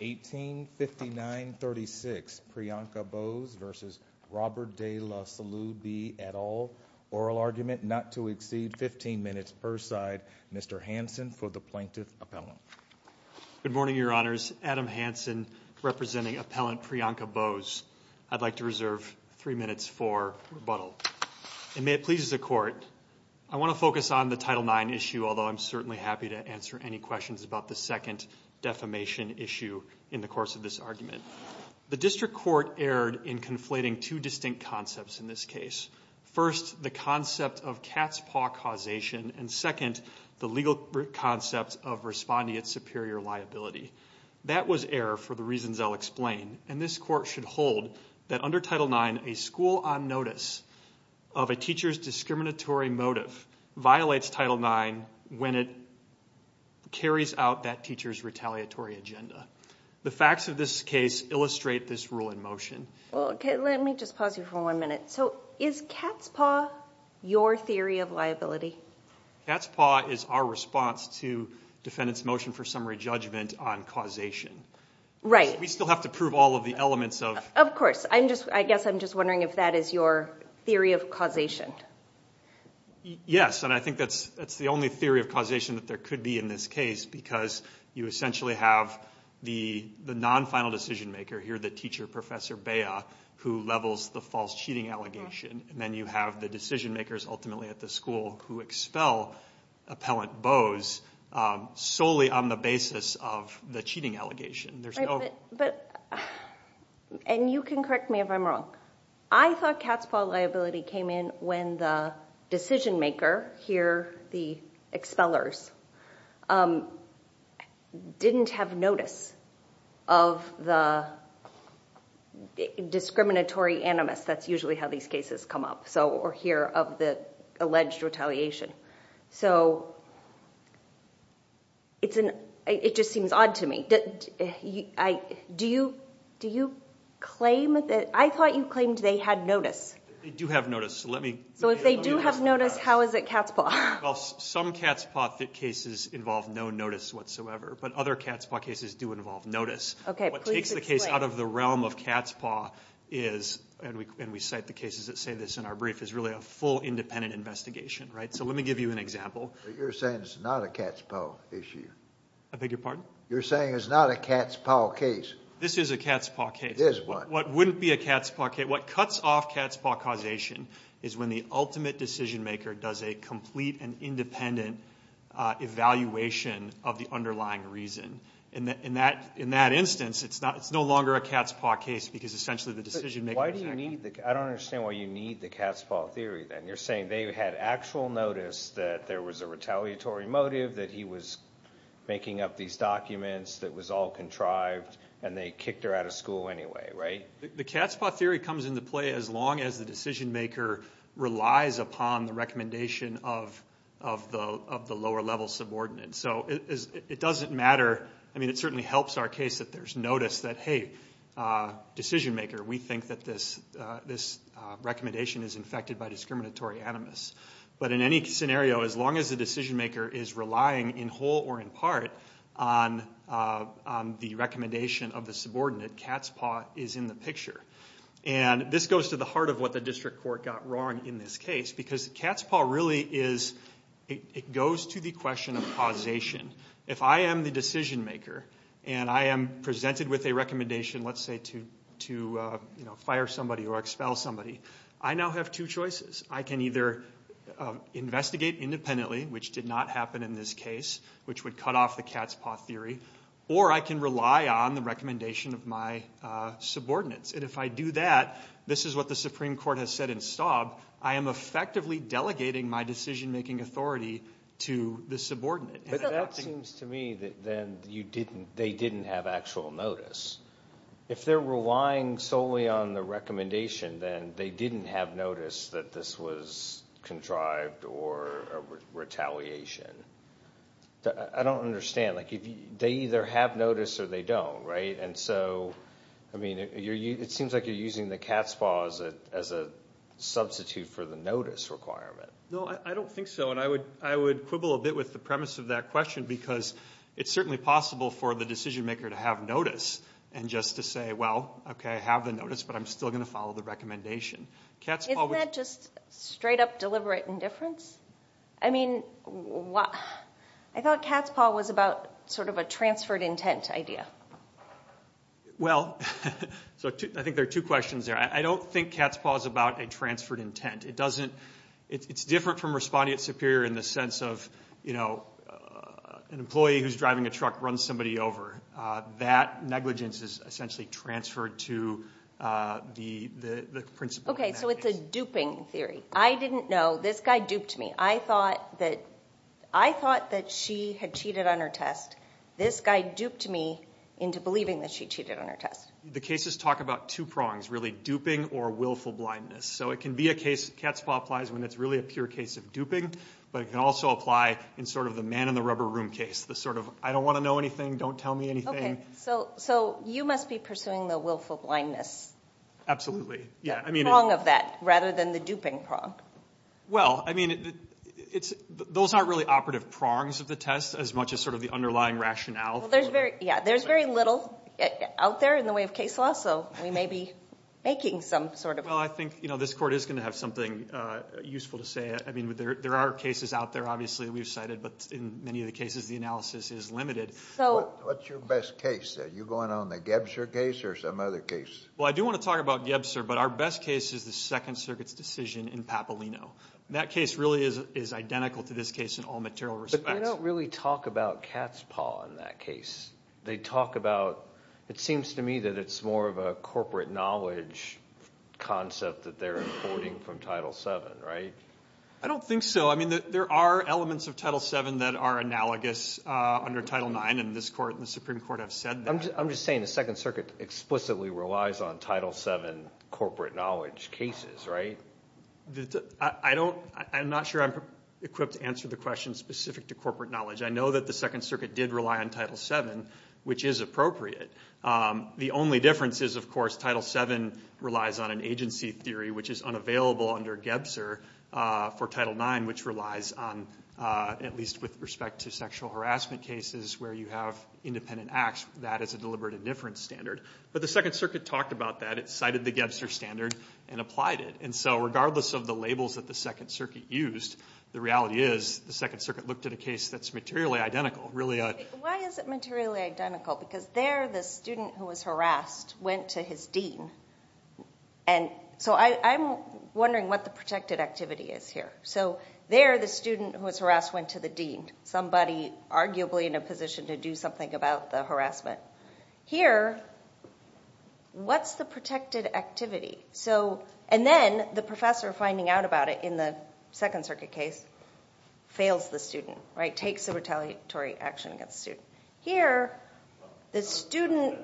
1859 36 Priyanka Bose versus Robert De La Salube et al. Oral argument not to exceed 15 minutes per side. Mr. Hanson for the Plaintiff Appellant. Good morning your honors, Adam Hanson representing Appellant Priyanka Bose. I'd like to reserve three minutes for rebuttal. And may it please the court, I want to focus on the Title IX issue although I'm certainly happy to answer any questions about the second defamation issue in the course of this argument. The district court erred in conflating two distinct concepts in this case. First the concept of cat's paw causation and second the legal concepts of responding its superior liability. That was error for the reasons I'll explain and this court should hold that under Title IX a school on notice of a teacher's retaliatory agenda. The facts of this case illustrate this rule in motion. Okay let me just pause you for one minute. So is cat's paw your theory of liability? Cat's paw is our response to defendant's motion for summary judgment on causation. Right. We still have to prove all of the elements of... Of course I'm just I guess I'm just wondering if that is your theory of causation. Yes and I think that's that's the only theory of causation that there could be in this case because you essentially have the the non-final decision-maker here, the teacher professor Bea, who levels the false cheating allegation and then you have the decision-makers ultimately at the school who expel appellant Boas solely on the basis of the cheating allegation. There's no... But and you can correct me if I'm wrong. I thought cat's paw liability came in when the decision-maker here, the expellers, didn't have notice of the discriminatory animus. That's usually how these cases come up. So we're here of the alleged retaliation. So it's an it just seems odd to me. Do you do you claim that... I thought you claimed they had notice. They do have notice so let me... So if they do have notice how is it cat's paw? Well some cat's paw cases involve no notice whatsoever but other cat's paw cases do involve notice. Okay what takes the case out of the realm of cat's paw is, and we cite the cases that say this in our brief, is really a full independent investigation, right? So let me give you an example. You're saying it's not a cat's paw issue. I beg your pardon? You're saying it's not a cat's paw case. This is a cat's paw case. What wouldn't be a cat's paw causation is when the ultimate decision-maker does a complete and independent evaluation of the underlying reason. And in that instance it's no longer a cat's paw case because essentially the decision-maker... I don't understand why you need the cat's paw theory then. You're saying they had actual notice that there was a retaliatory motive that he was making up these documents that was all contrived and they kicked her out of school anyway, right? The cat's paw theory comes into play as long as the decision-maker relies upon the recommendation of the lower-level subordinate. So it doesn't matter. I mean it certainly helps our case that there's notice that, hey, decision-maker, we think that this recommendation is infected by discriminatory animus. But in any scenario, as long as the decision- on the recommendation of the subordinate, cat's paw is in the picture. And this goes to the heart of what the district court got wrong in this case because cat's paw really is... it goes to the question of causation. If I am the decision-maker and I am presented with a recommendation, let's say, to fire somebody or expel somebody, I now have two choices. I can either investigate independently, which did not happen in this case, which would cut off the cat's paw theory, or I can rely on the recommendation of my subordinates. And if I do that, this is what the Supreme Court has said in Staub, I am effectively delegating my decision-making authority to the subordinate. But that seems to me that then you didn't... they didn't have actual notice. If they're relying solely on the recommendation, then they didn't have notice that this was contrived or a retaliation. I don't understand. Like if they either have notice or they don't, right? And so, I mean, it seems like you're using the cat's paw as a substitute for the notice requirement. No, I don't think so. And I would quibble a bit with the premise of that question because it's certainly possible for the decision-maker to have notice and just to say, well, okay, I have the notice, but I'm still going to follow the Isn't that just straight-up deliberate indifference? I mean, I thought cat's paw was about sort of a transferred intent idea. Well, so I think there are two questions there. I don't think cat's paw is about a transferred intent. It doesn't... it's different from responding at Superior in the sense of, you know, an employee who's driving a truck runs somebody over. That negligence is essentially transferred to the principal. Okay, so it's a duping theory. I didn't know. This guy duped me. I thought that... I thought that she had cheated on her test. This guy duped me into believing that she cheated on her test. The cases talk about two prongs, really, duping or willful blindness. So it can be a case... cat's paw applies when it's really a pure case of duping, but it can also apply in sort of the man-in-the-rubber-room case. The sort of, I don't want to know anything, don't tell me anything. Okay, so you must be pursuing the willful blindness. Absolutely, yeah. I mean... Prong of that, rather than the duping prong. Well, I mean, it's... those aren't really operative prongs of the test, as much as sort of the underlying rationale. There's very... yeah, there's very little out there in the way of case law, so we may be making some sort of... Well, I think, you know, this Court is going to have something useful to say. I mean, there are cases out there, obviously, we've cited, but in many of the cases the analysis is limited. So... What's your best case? Are you going on the Gebscher case or some other case? Well, I do want to talk about Gebscher, but our best case is the Second Circuit's decision in Papalino. That case really is identical to this case in all material respects. But they don't really talk about cat's paw in that case. They talk about... It seems to me that it's more of a corporate knowledge concept that they're importing from Title VII, right? I don't think so. I mean, there are elements of Title VII that are analogous under Title IX, and this Court and the Supreme Court have said that. I'm just saying the Second Circuit explicitly relies on Title VII corporate knowledge cases, right? I don't... I'm not sure I'm equipped to answer the question specific to corporate knowledge. I know that the Second Circuit did rely on Title VII, which is appropriate. The only difference is, of course, Title VII relies on an agency theory, which is unavailable under Gebscher for Title IX, which relies on, at least with respect to sexual harassment cases where you have independent acts, that is a deliberate indifference standard. But the Second Circuit talked about that. It cited the Gebscher standard and applied it. And so regardless of the labels that the Second Circuit used, the reality is the Second Circuit looked at a case that's materially identical, really a... Why is it materially identical? Because there the student who was harassed went to his dean. And so I'm wondering what the protected activity is here. So there the student who was harassed went to the dean, somebody arguably in a position to do something about the harassment. Here, what's the protected activity? So, and then the professor finding out about it in the Second Circuit case fails the student, right? Takes a retaliatory action against the student. Here, the student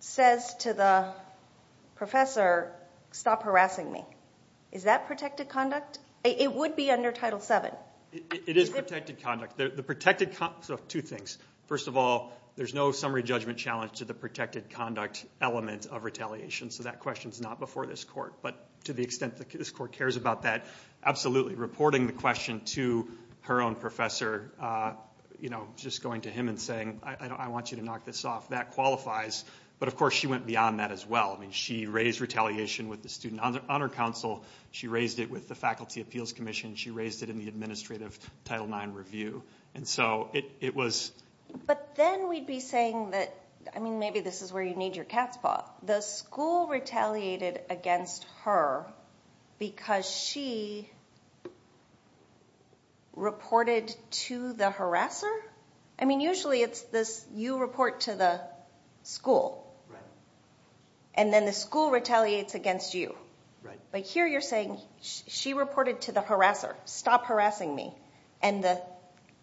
says to the professor, stop harassing me. Is that protected conduct? It would be under Title VII. It is protected conduct. The protected, so two things. First of all, there's no summary judgment challenge to the protected conduct element of retaliation. So that question's not before this court. But to the extent that this court cares about that, absolutely. Reporting the question to her own professor, you know, just going to him and saying, I want you to knock this off, that qualifies. But of course, she went beyond that as well. I mean, she raised retaliation with the Student Honor Council. She raised it with the Faculty Appeals Commission. She raised it in the administrative Title IX review. And so it was. But then we'd be saying that, I mean, maybe this is where you need your cat's paw. The school retaliated against her because she reported to the harasser? I mean, usually it's this you report to the school. Right. And then the school retaliates against you. Right. But here you're saying she reported to the harasser. Stop harassing me. And the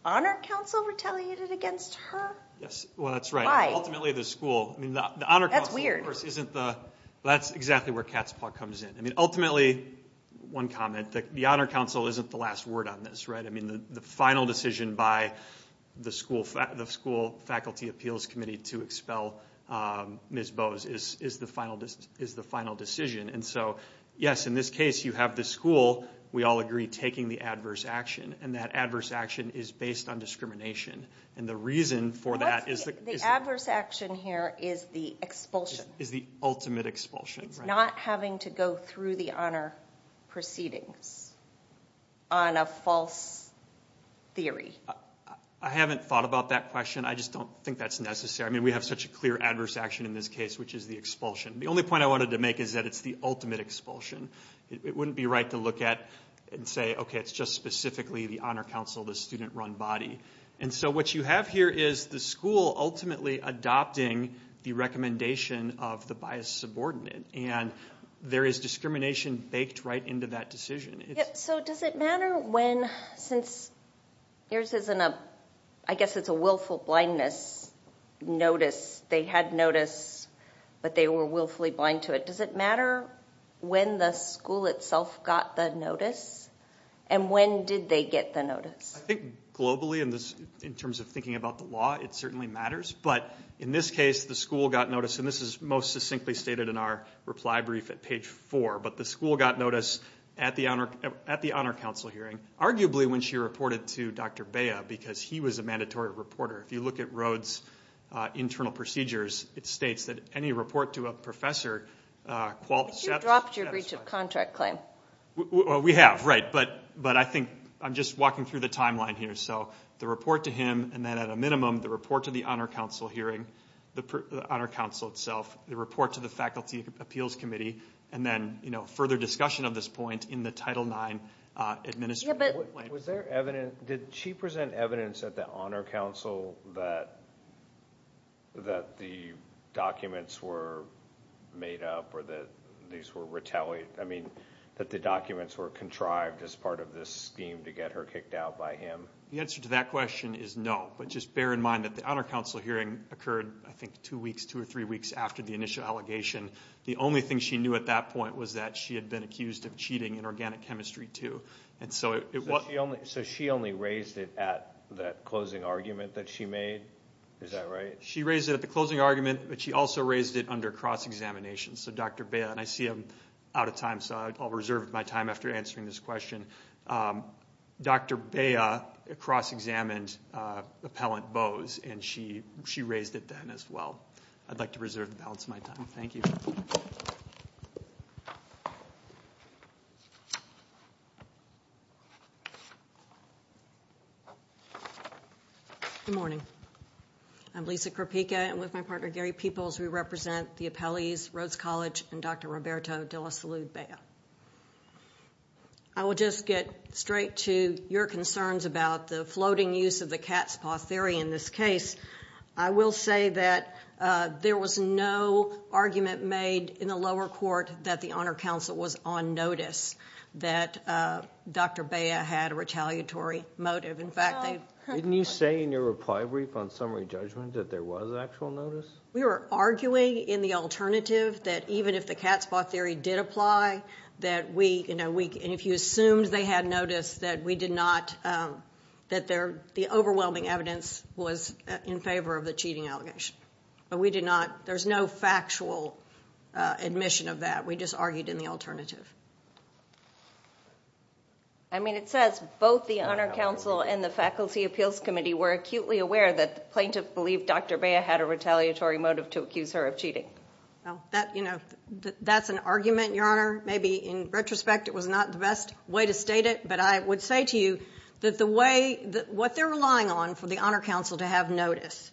Honor Council retaliated against her? Yes. Well, that's right. Why? Ultimately, the school. That's weird. That's exactly where cat's paw comes in. I mean, ultimately, one comment, the Honor Council isn't the last word on this, right? I mean, the final decision by the school Faculty Appeals Committee to expel Ms. Bowes is the final decision. And so, yes, in this case, you have the school, we all agree, taking the adverse action. And that adverse action is based on discrimination. And the reason for that is the. The adverse action here is the expulsion. Is the ultimate expulsion. It's not having to go through the honor proceedings on a false theory. I haven't thought about that question. I just don't think that's necessary. I mean, we have such a clear adverse action in this case, which is the expulsion. The only point I wanted to make is that it's the ultimate expulsion. It wouldn't be right to look at and say, okay, it's just specifically the Honor Council, the student-run body. And so what you have here is the school ultimately adopting the recommendation of the biased subordinate. And there is discrimination baked right into that decision. So does it matter when, since yours isn't a, I guess it's a willful blindness notice. They had notice, but they were willfully blind to it. Does it matter when the school itself got the notice? And when did they get the notice? I think globally in terms of thinking about the law, it certainly matters. But in this case, the school got notice. And this is most succinctly stated in our reply brief at page four. But the school got notice at the Honor Council hearing, arguably when she reported to Dr. Beha, because he was a mandatory reporter. If you look at Rhodes' internal procedures, it states that any report to a professor qualifies. But you dropped your breach of contract claim. We have, right. But I think I'm just walking through the timeline here. So the report to him, and then at a minimum the report to the Honor Council hearing, the Honor Council itself, the report to the Faculty Appeals Committee, and then further discussion of this point in the Title IX administrative plan. Was there evidence, did she present evidence at the Honor Council that the documents were made up or that these were retaliated, I mean that the documents were contrived as part of this scheme to get her kicked out by him? The answer to that question is no. But just bear in mind that the Honor Council hearing occurred, I think, two weeks, two or three weeks after the initial allegation. The only thing she knew at that point was that she had been accused of cheating in organic chemistry too. So she only raised it at that closing argument that she made? Is that right? She raised it at the closing argument, but she also raised it under cross-examination. So Dr. Beha, and I see I'm out of time, so I'll reserve my time after answering this question. Dr. Beha cross-examined Appellant Bowes, and she raised it then as well. I'd like to preserve the balance of my time. Thank you. Good morning. I'm Lisa Kropika, and with my partner Gary Peoples, we represent the appellees, Rhodes College, and Dr. Roberto de la Salud Beha. I will just get straight to your concerns about the floating use of the cat's paw theory in this case. I will say that there was no argument made in the lower court that the Honor Council was on notice that Dr. Beha had a retaliatory motive. In fact, they've— Didn't you say in your reply brief on summary judgment that there was actual notice? We were arguing in the alternative that even if the cat's paw theory did apply, that we—and if you assumed they had notice, that we did not—that the overwhelming evidence was in favor of the cheating allegation. But we did not—there's no factual admission of that. We just argued in the alternative. I mean, it says both the Honor Council and the Faculty Appeals Committee were acutely aware that the plaintiff believed Dr. Beha had a retaliatory motive to accuse her of cheating. Well, that—you know, that's an argument, Your Honor. Maybe in retrospect it was not the best way to state it, but I would say to you that the way—what they're relying on for the Honor Council to have notice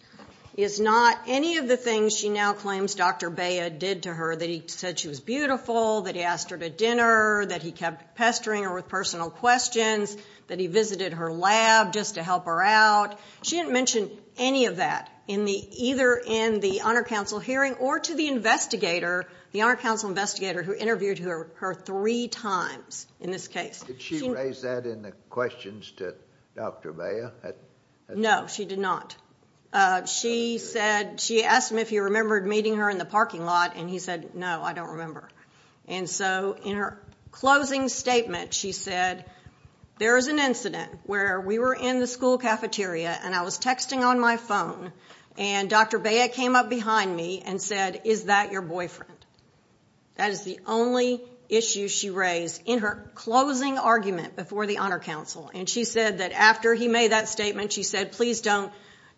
is not any of the things she now claims Dr. Beha did to her, that he said she was beautiful, that he asked her to dinner, that he kept pestering her with personal questions, that he visited her lab just to help her out. She didn't mention any of that in the—either in the Honor Council hearing or to the investigator, the Honor Council investigator who interviewed her three times in this case. Did she raise that in the questions to Dr. Beha? No, she did not. She said—she asked him if he remembered meeting her in the parking lot, and he said, no, I don't remember. And so in her closing statement, she said, there is an incident where we were in the school cafeteria, and I was texting on my phone, and Dr. Beha came up behind me and said, is that your boyfriend? That is the only issue she raised in her closing argument before the Honor Council. And she said that after he made that statement, she said, please don't—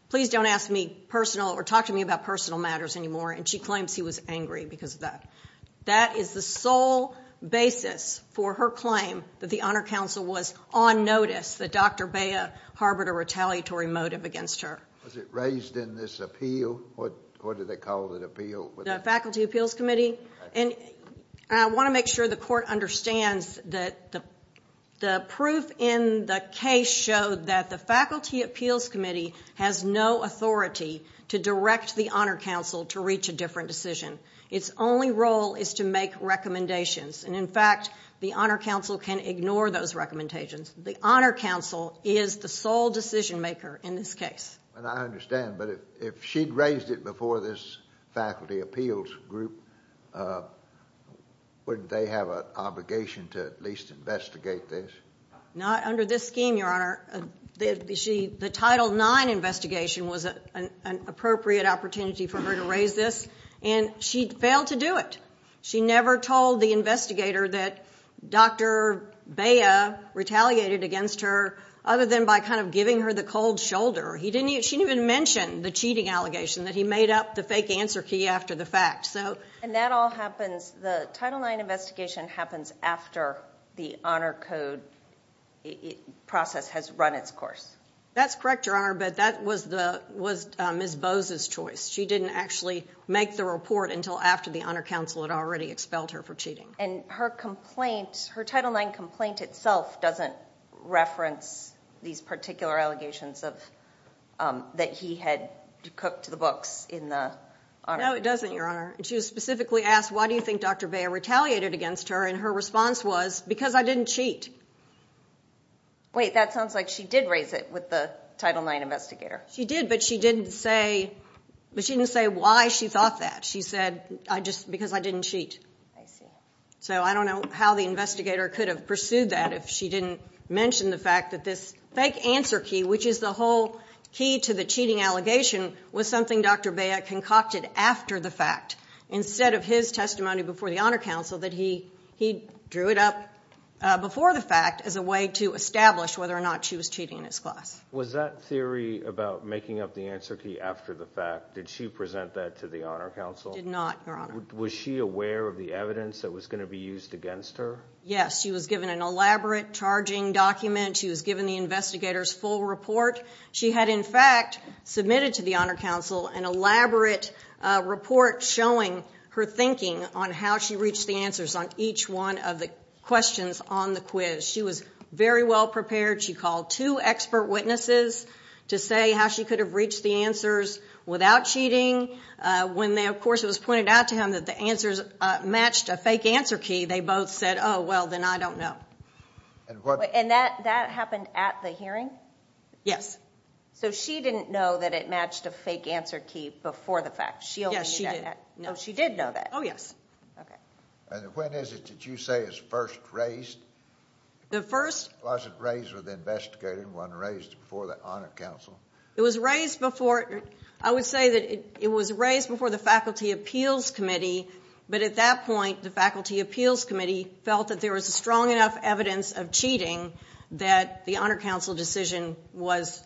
please don't ask me personal or talk to me about personal matters anymore, and she claims he was angry because of that. That is the sole basis for her claim that the Honor Council was on notice, that Dr. Beha harbored a retaliatory motive against her. Was it raised in this appeal? What did they call the appeal? The Faculty Appeals Committee. I want to make sure the court understands that the proof in the case showed that the Faculty Appeals Committee has no authority to direct the Honor Council to reach a different decision. Its only role is to make recommendations, and in fact, the Honor Council can ignore those recommendations. The Honor Council is the sole decision maker in this case. And I understand, but if she'd raised it before this Faculty Appeals Group, wouldn't they have an obligation to at least investigate this? Not under this scheme, Your Honor. The Title IX investigation was an appropriate opportunity for her to raise this, and she failed to do it. She never told the investigator that Dr. Beha retaliated against her other than by kind of giving her the cold shoulder. She didn't even mention the cheating allegation that he made up the fake answer key after the fact. And that all happens, the Title IX investigation happens after the Honor Code process has run its course. That's correct, Your Honor, but that was Ms. Bose's choice. She didn't actually make the report until after the Honor Council had already expelled her for cheating. And her complaint, her Title IX complaint itself doesn't reference these particular allegations that he had cooked the books in the Honor Council. No, it doesn't, Your Honor. She was specifically asked, why do you think Dr. Beha retaliated against her, and her response was, because I didn't cheat. Wait, that sounds like she did raise it with the Title IX investigator. She did, but she didn't say why she thought that. She said, because I didn't cheat. I see. So I don't know how the investigator could have pursued that if she didn't mention the fact that this fake answer key, which is the whole key to the cheating allegation, was something Dr. Beha concocted after the fact, instead of his testimony before the Honor Council that he drew it up before the fact as a way to establish whether or not she was cheating in his class. Was that theory about making up the answer key after the fact, did she present that to the Honor Council? Did not, Your Honor. Was she aware of the evidence that was going to be used against her? Yes. She was given an elaborate charging document. She was given the investigator's full report. She had, in fact, submitted to the Honor Council an elaborate report showing her thinking on how she reached the answers on each one of the questions on the quiz. She was very well prepared. She called two expert witnesses to say how she could have reached the answers without cheating. When, of course, it was pointed out to him that the answers matched a fake answer key, they both said, oh, well, then I don't know. And that happened at the hearing? Yes. So she didn't know that it matched a fake answer key before the fact? Yes, she did. Oh, she did know that? Oh, yes. Okay. And when is it that you say is first raised? The first? Was it raised with the investigator and wasn't raised before the Honor Council? It was raised before, I would say that it was raised before the Faculty Appeals Committee, but at that point the Faculty Appeals Committee felt that there was strong enough evidence of cheating that the Honor Council decision was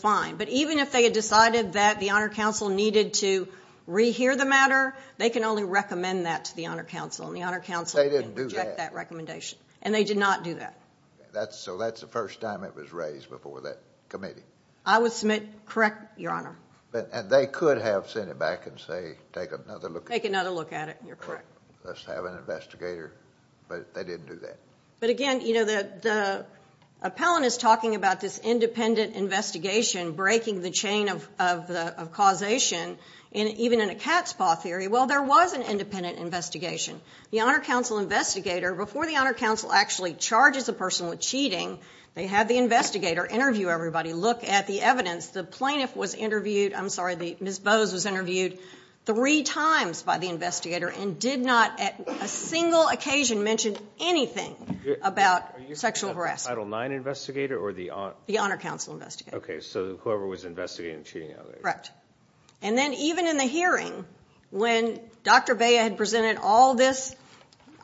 fine. But even if they had decided that the Honor Council needed to re-hear the matter, they can only recommend that to the Honor Council, and the Honor Council can reject that recommendation. They didn't do that? So that's the first time it was raised before that committee? I would submit, correct, Your Honor. And they could have sent it back and say, take another look at it. Take another look at it, you're correct. Let's have an investigator, but they didn't do that. But again, you know, the appellant is talking about this independent investigation breaking the chain of causation, and even in a cat's paw theory, well, there was an independent investigation. The Honor Council investigator, before the Honor Council actually charges a person with cheating, they had the investigator interview everybody, look at the evidence. The plaintiff was interviewed, I'm sorry, Ms. Bowes was interviewed three times by the investigator and did not at a single occasion mention anything about sexual harassment. Are you talking about the Title IX investigator or the Honor Council investigator? The Honor Council investigator. Okay, so whoever was investigating cheating allegations. Correct. And then even in the hearing, when Dr. Bea had presented all this,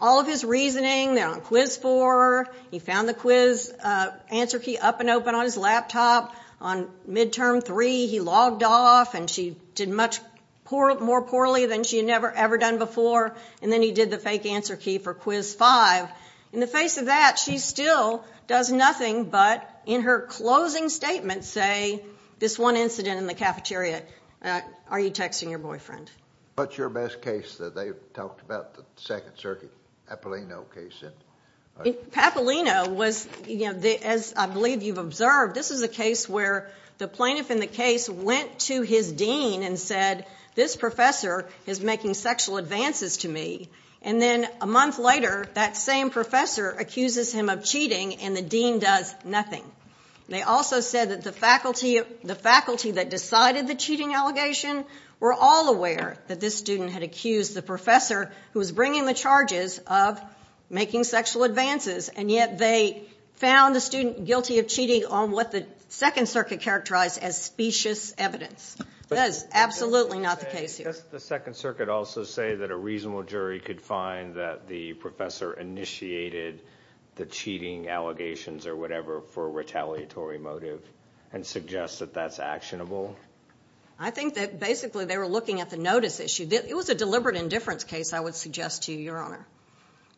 all of his reasoning, they're on quiz four, he found the quiz answer key up and open on his laptop, on midterm three he logged off and she did much more poorly than she had ever done before, and then he did the fake answer key for quiz five. In the face of that, she still does nothing but in her closing statement say, this one incident in the cafeteria, are you texting your boyfriend? What's your best case that they've talked about, the Second Circuit, Papolino case? Papolino was, as I believe you've observed, this is a case where the plaintiff in the case went to his dean and said, this professor is making sexual advances to me. And then a month later, that same professor accuses him of cheating and the dean does nothing. They also said that the faculty that decided the cheating allegation were all aware that this student had accused the professor who was bringing the charges of making sexual advances, and yet they found the student guilty of cheating on what the Second Circuit characterized as specious evidence. That is absolutely not the case here. Does the Second Circuit also say that a reasonable jury could find that the professor initiated the cheating allegations or whatever for a retaliatory motive and suggest that that's actionable? I think that basically they were looking at the notice issue. It was a deliberate indifference case, I would suggest to you, Your Honor.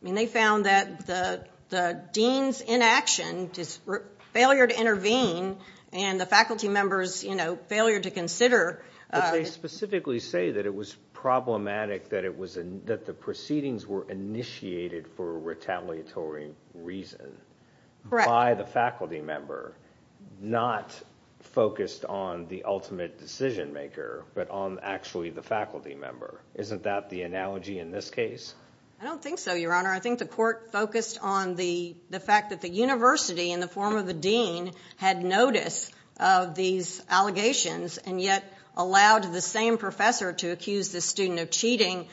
I mean, they found that the dean's inaction, his failure to intervene, and the faculty member's, you know, failure to consider. But they specifically say that it was problematic that the proceedings were initiated for a retaliatory reason by the faculty member, not focused on the ultimate decision maker, but on actually the faculty member. Isn't that the analogy in this case? I don't think so, Your Honor. I think the court focused on the fact that the university in the form of the dean had notice of these allegations and yet allowed the same professor to accuse this student of cheating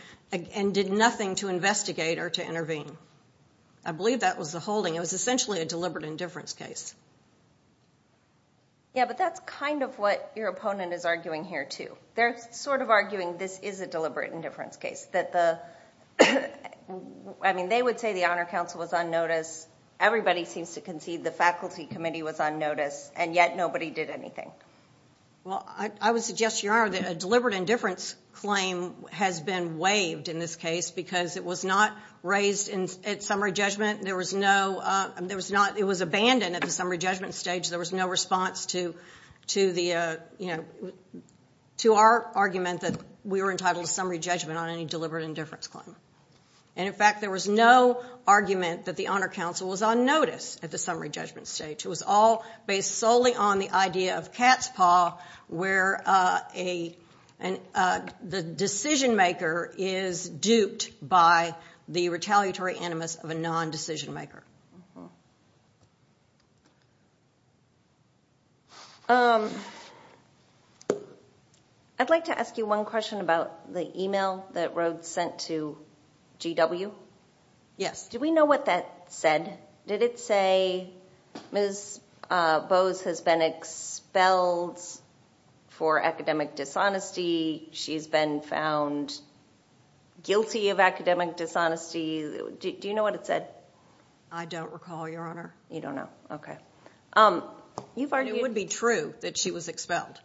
and did nothing to investigate or to intervene. I believe that was the holding. It was essentially a deliberate indifference case. Yeah, but that's kind of what your opponent is arguing here, too. They're sort of arguing this is a deliberate indifference case. I mean, they would say the Honor Council was on notice. Everybody seems to concede the faculty committee was on notice, and yet nobody did anything. Well, I would suggest, Your Honor, that a deliberate indifference claim has been waived in this case because it was not raised at summary judgment. It was abandoned at the summary judgment stage. There was no response to our argument that we were entitled to summary judgment on any deliberate indifference claim. And, in fact, there was no argument that the Honor Council was on notice at the summary judgment stage. It was all based solely on the idea of cat's paw where the decision-maker is duped by the retaliatory animus of a non-decision-maker. I'd like to ask you one question about the email that Rhodes sent to GW. Yes. Did we know what that said? Did it say, Ms. Bowes has been expelled for academic dishonesty. She's been found guilty of academic dishonesty. Do you know what it said? I don't recall, Your Honor. You don't know. Okay. It would be true that she was expelled.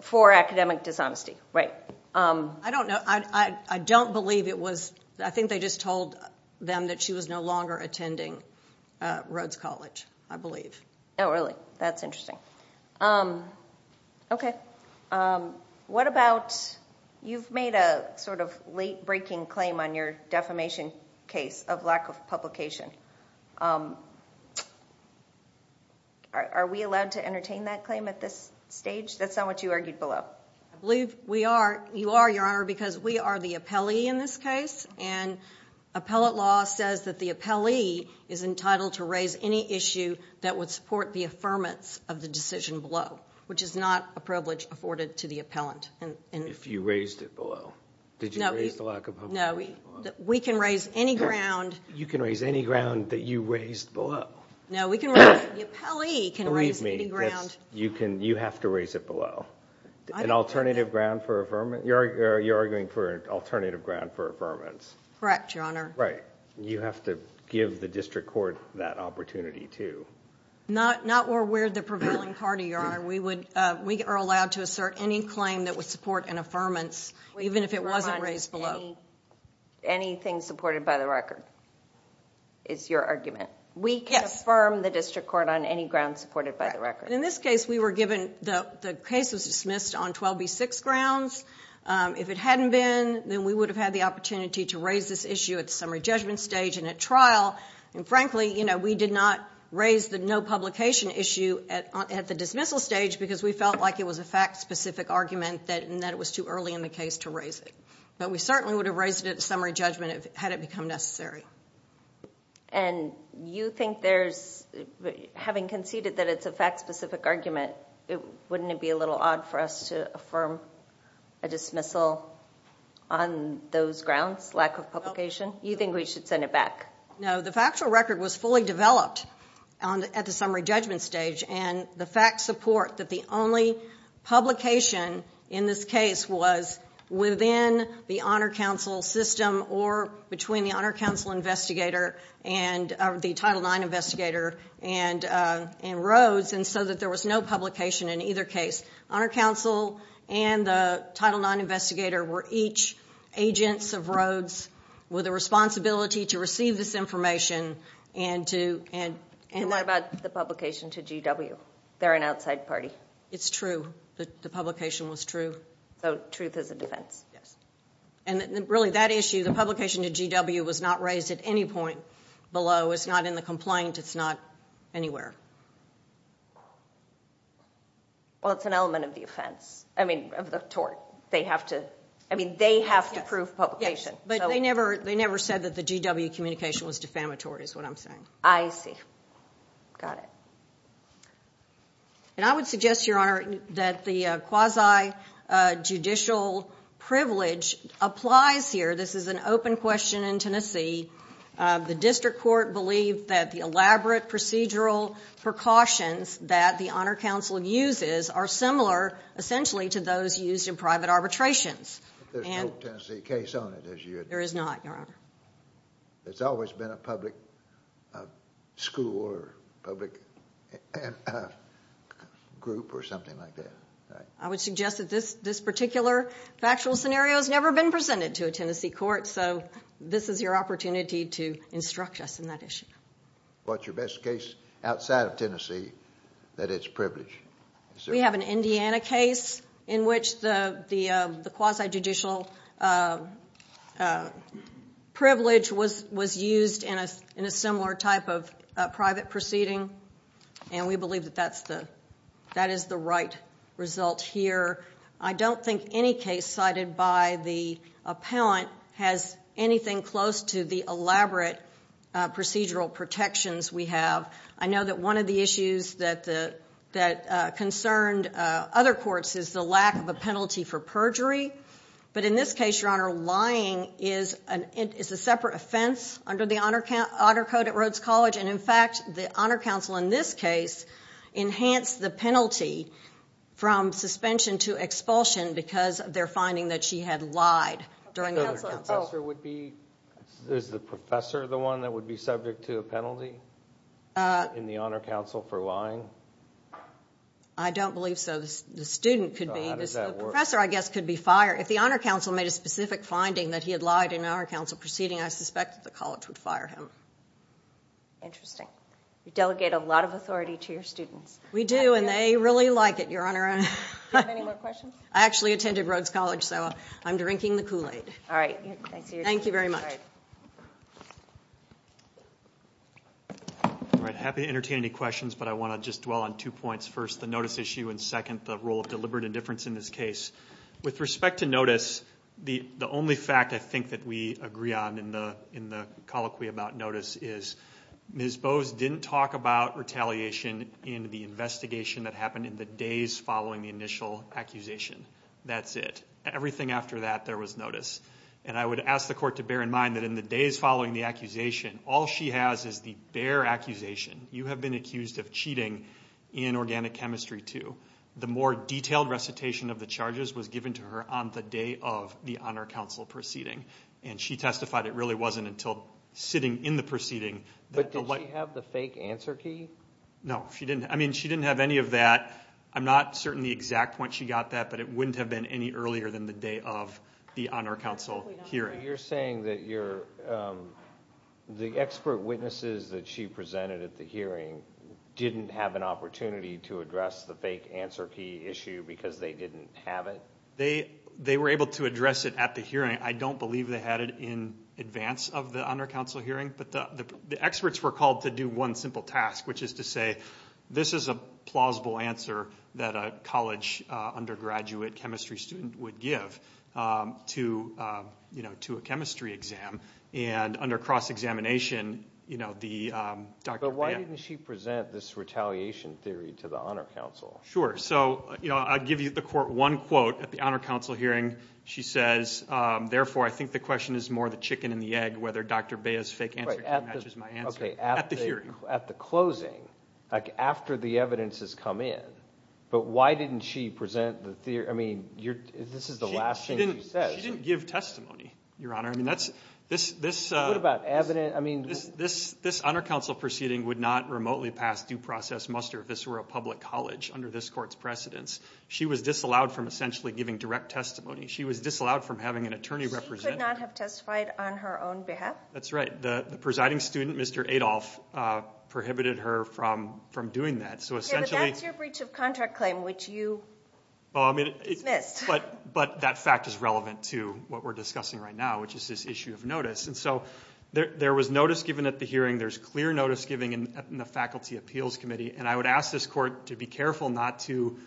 For academic dishonesty. Right. I don't know. I don't believe it was – I think they just told them that she was no longer attending Rhodes College, I believe. Oh, really? That's interesting. Okay. What about – you've made a sort of late-breaking claim on your defamation case of lack of publication. Are we allowed to entertain that claim at this stage? That's not what you argued below. I believe we are. You are, Your Honor, because we are the appellee in this case, and appellate law says that the appellee is entitled to raise any issue that would support the affirmance of the decision below, which is not a privilege afforded to the appellant. If you raised it below. Did you raise the lack of publication below? No. We can raise any ground. You can raise any ground that you raised below. No, we can raise – the appellee can raise any ground. Believe me, you have to raise it below. An alternative ground for affirmance? You're arguing for an alternative ground for affirmance. Correct, Your Honor. Right. You have to give the district court that opportunity, too. Not where we're the prevailing party, Your Honor. We are allowed to assert any claim that would support an affirmance, even if it wasn't raised below. Anything supported by the record is your argument. Yes. We can affirm the district court on any ground supported by the record. In this case, we were given – the case was dismissed on 12B6 grounds. If it hadn't been, then we would have had the opportunity to raise this issue at the summary judgment stage and at trial. And, frankly, we did not raise the no publication issue at the dismissal stage because we felt like it was a fact-specific argument and that it was too early in the case to raise it. But we certainly would have raised it at the summary judgment had it become necessary. And you think there's – having conceded that it's a fact-specific argument, wouldn't it be a little odd for us to affirm a dismissal on those grounds, lack of publication? You think we should send it back? No. The factual record was fully developed at the summary judgment stage, and the facts support that the only publication in this case was within the Honor Council system or between the Honor Council investigator and the Title IX investigator and Rhodes, and so that there was no publication in either case. Honor Council and the Title IX investigator were each agents of Rhodes with a responsibility to receive this information and to – And what about the publication to GW? They're an outside party. It's true. The publication was true. So truth is a defense. Yes. And really, that issue, the publication to GW, was not raised at any point below. It's not in the complaint. It's not anywhere. Well, it's an element of the offense – I mean, of the tort. They have to – I mean, they have to prove publication. Yes, but they never said that the GW communication was defamatory is what I'm saying. I see. Got it. And I would suggest, Your Honor, that the quasi-judicial privilege applies here. This is an open question in Tennessee. The district court believed that the elaborate procedural precautions that the Honor Council uses are similar essentially to those used in private arbitrations. There's no Tennessee case on it, is there? There is not, Your Honor. There's always been a public school or public group or something like that. I would suggest that this particular factual scenario has never been presented to a Tennessee court, so this is your opportunity to instruct us in that issue. What's your best case outside of Tennessee that it's privileged? We have an Indiana case in which the quasi-judicial privilege was used in a similar type of private proceeding, and we believe that that is the right result here. I don't think any case cited by the appellant has anything close to the elaborate procedural protections we have. I know that one of the issues that concerned other courts is the lack of a penalty for perjury, but in this case, Your Honor, lying is a separate offense under the Honor Code at Rhodes College, and in fact the Honor Council in this case enhanced the penalty from suspension to expulsion because of their finding that she had lied during the Honor Council. Is the professor the one that would be subject to a penalty in the Honor Council for lying? I don't believe so. The student could be. How does that work? The professor, I guess, could be fired. If the Honor Council made a specific finding that he had lied in an Honor Council proceeding, I suspect that the college would fire him. Interesting. You delegate a lot of authority to your students. We do, and they really like it, Your Honor. I actually attended Rhodes College, so I'm drinking the Kool-Aid. All right. Thank you very much. I'm happy to entertain any questions, but I want to just dwell on two points. First, the notice issue, and second, the role of deliberate indifference in this case. With respect to notice, the only fact I think that we agree on in the colloquy about notice is Ms. Bowes didn't talk about retaliation in the investigation that happened in the days following the initial accusation. That's it. Everything after that, there was notice. I would ask the court to bear in mind that in the days following the accusation, all she has is the bare accusation. You have been accused of cheating in Organic Chemistry 2. The more detailed recitation of the charges was given to her on the day of the Honor Council proceeding. She testified it really wasn't until sitting in the proceeding. Did she have the fake answer key? No, she didn't. She didn't have any of that. I'm not certain the exact point she got that, but it wouldn't have been any earlier than the day of the Honor Council hearing. You're saying that the expert witnesses that she presented at the hearing didn't have an opportunity to address the fake answer key issue because they didn't have it? They were able to address it at the hearing. I don't believe they had it in advance of the Honor Council hearing, but the experts were called to do one simple task, which is to say this is a plausible answer that a college undergraduate chemistry student would give to a chemistry exam. And under cross-examination, the doctor— But why didn't she present this retaliation theory to the Honor Council? Sure. I'll give you the court one quote at the Honor Council hearing. She says, Therefore, I think the question is more the chicken and the egg, whether Dr. Bea's fake answer key matches my answer at the hearing. At the closing, after the evidence has come in, but why didn't she present the theory? I mean, this is the last thing she says. She didn't give testimony, Your Honor. What about evidence? This Honor Council proceeding would not remotely pass due process muster if this were a public college under this court's precedence. She was disallowed from essentially giving direct testimony. She was disallowed from having an attorney represent her. She could not have testified on her own behalf? That's right. The presiding student, Mr. Adolph, prohibited her from doing that. So essentially— Yeah, but that's your breach of contract claim, which you dismissed. But that fact is relevant to what we're discussing right now, which is this issue of notice. And so there was notice given at the hearing. There's clear notice given in the Faculty Appeals Committee. And I would ask this court to be careful not to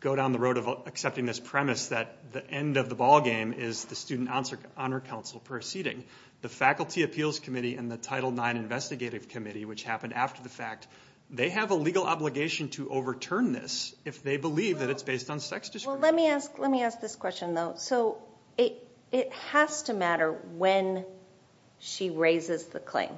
go down the road of accepting this premise that the end of the ball game is the Student Honor Council proceeding. The Faculty Appeals Committee and the Title IX Investigative Committee, which happened after the fact, they have a legal obligation to overturn this if they believe that it's based on sex discrimination. Well, let me ask this question, though. So it has to matter when she raises the claim.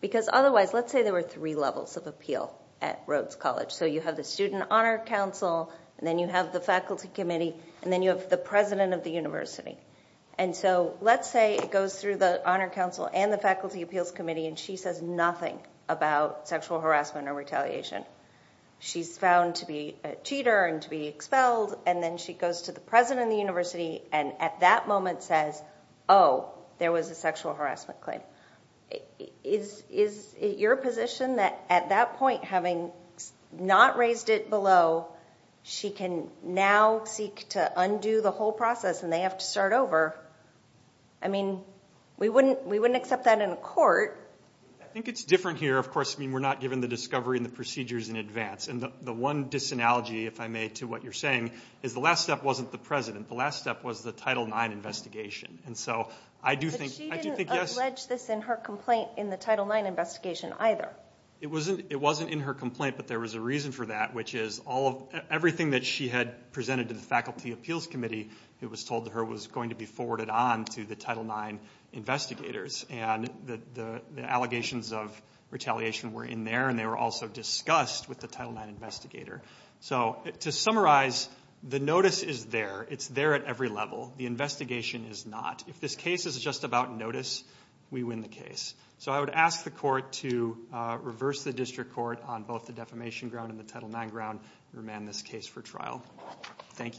Because otherwise, let's say there were three levels of appeal at Rhodes College. So you have the Student Honor Council, and then you have the Faculty Committee, and then you have the president of the university. And so let's say it goes through the Honor Council and the Faculty Appeals Committee, and she says nothing about sexual harassment or retaliation. She's found to be a cheater and to be expelled. And then she goes to the president of the university and at that moment says, oh, there was a sexual harassment claim. Is it your position that at that point, having not raised it below, she can now seek to undo the whole process and they have to start over? I mean, we wouldn't accept that in a court. I think it's different here, of course. I mean, we're not given the discovery and the procedures in advance. And the one disanalogy, if I may, to what you're saying is the last step wasn't the president. The last step was the Title IX investigation. But she didn't allege this in her complaint in the Title IX investigation either. It wasn't in her complaint, but there was a reason for that, which is everything that she had presented to the Faculty Appeals Committee, it was told to her was going to be forwarded on to the Title IX investigators. And the allegations of retaliation were in there, and they were also discussed with the Title IX investigator. So to summarize, the notice is there. It's there at every level. The investigation is not. If this case is just about notice, we win the case. So I would ask the court to reverse the district court on both the defamation ground and the Title IX ground and remand this case for trial. Thank you.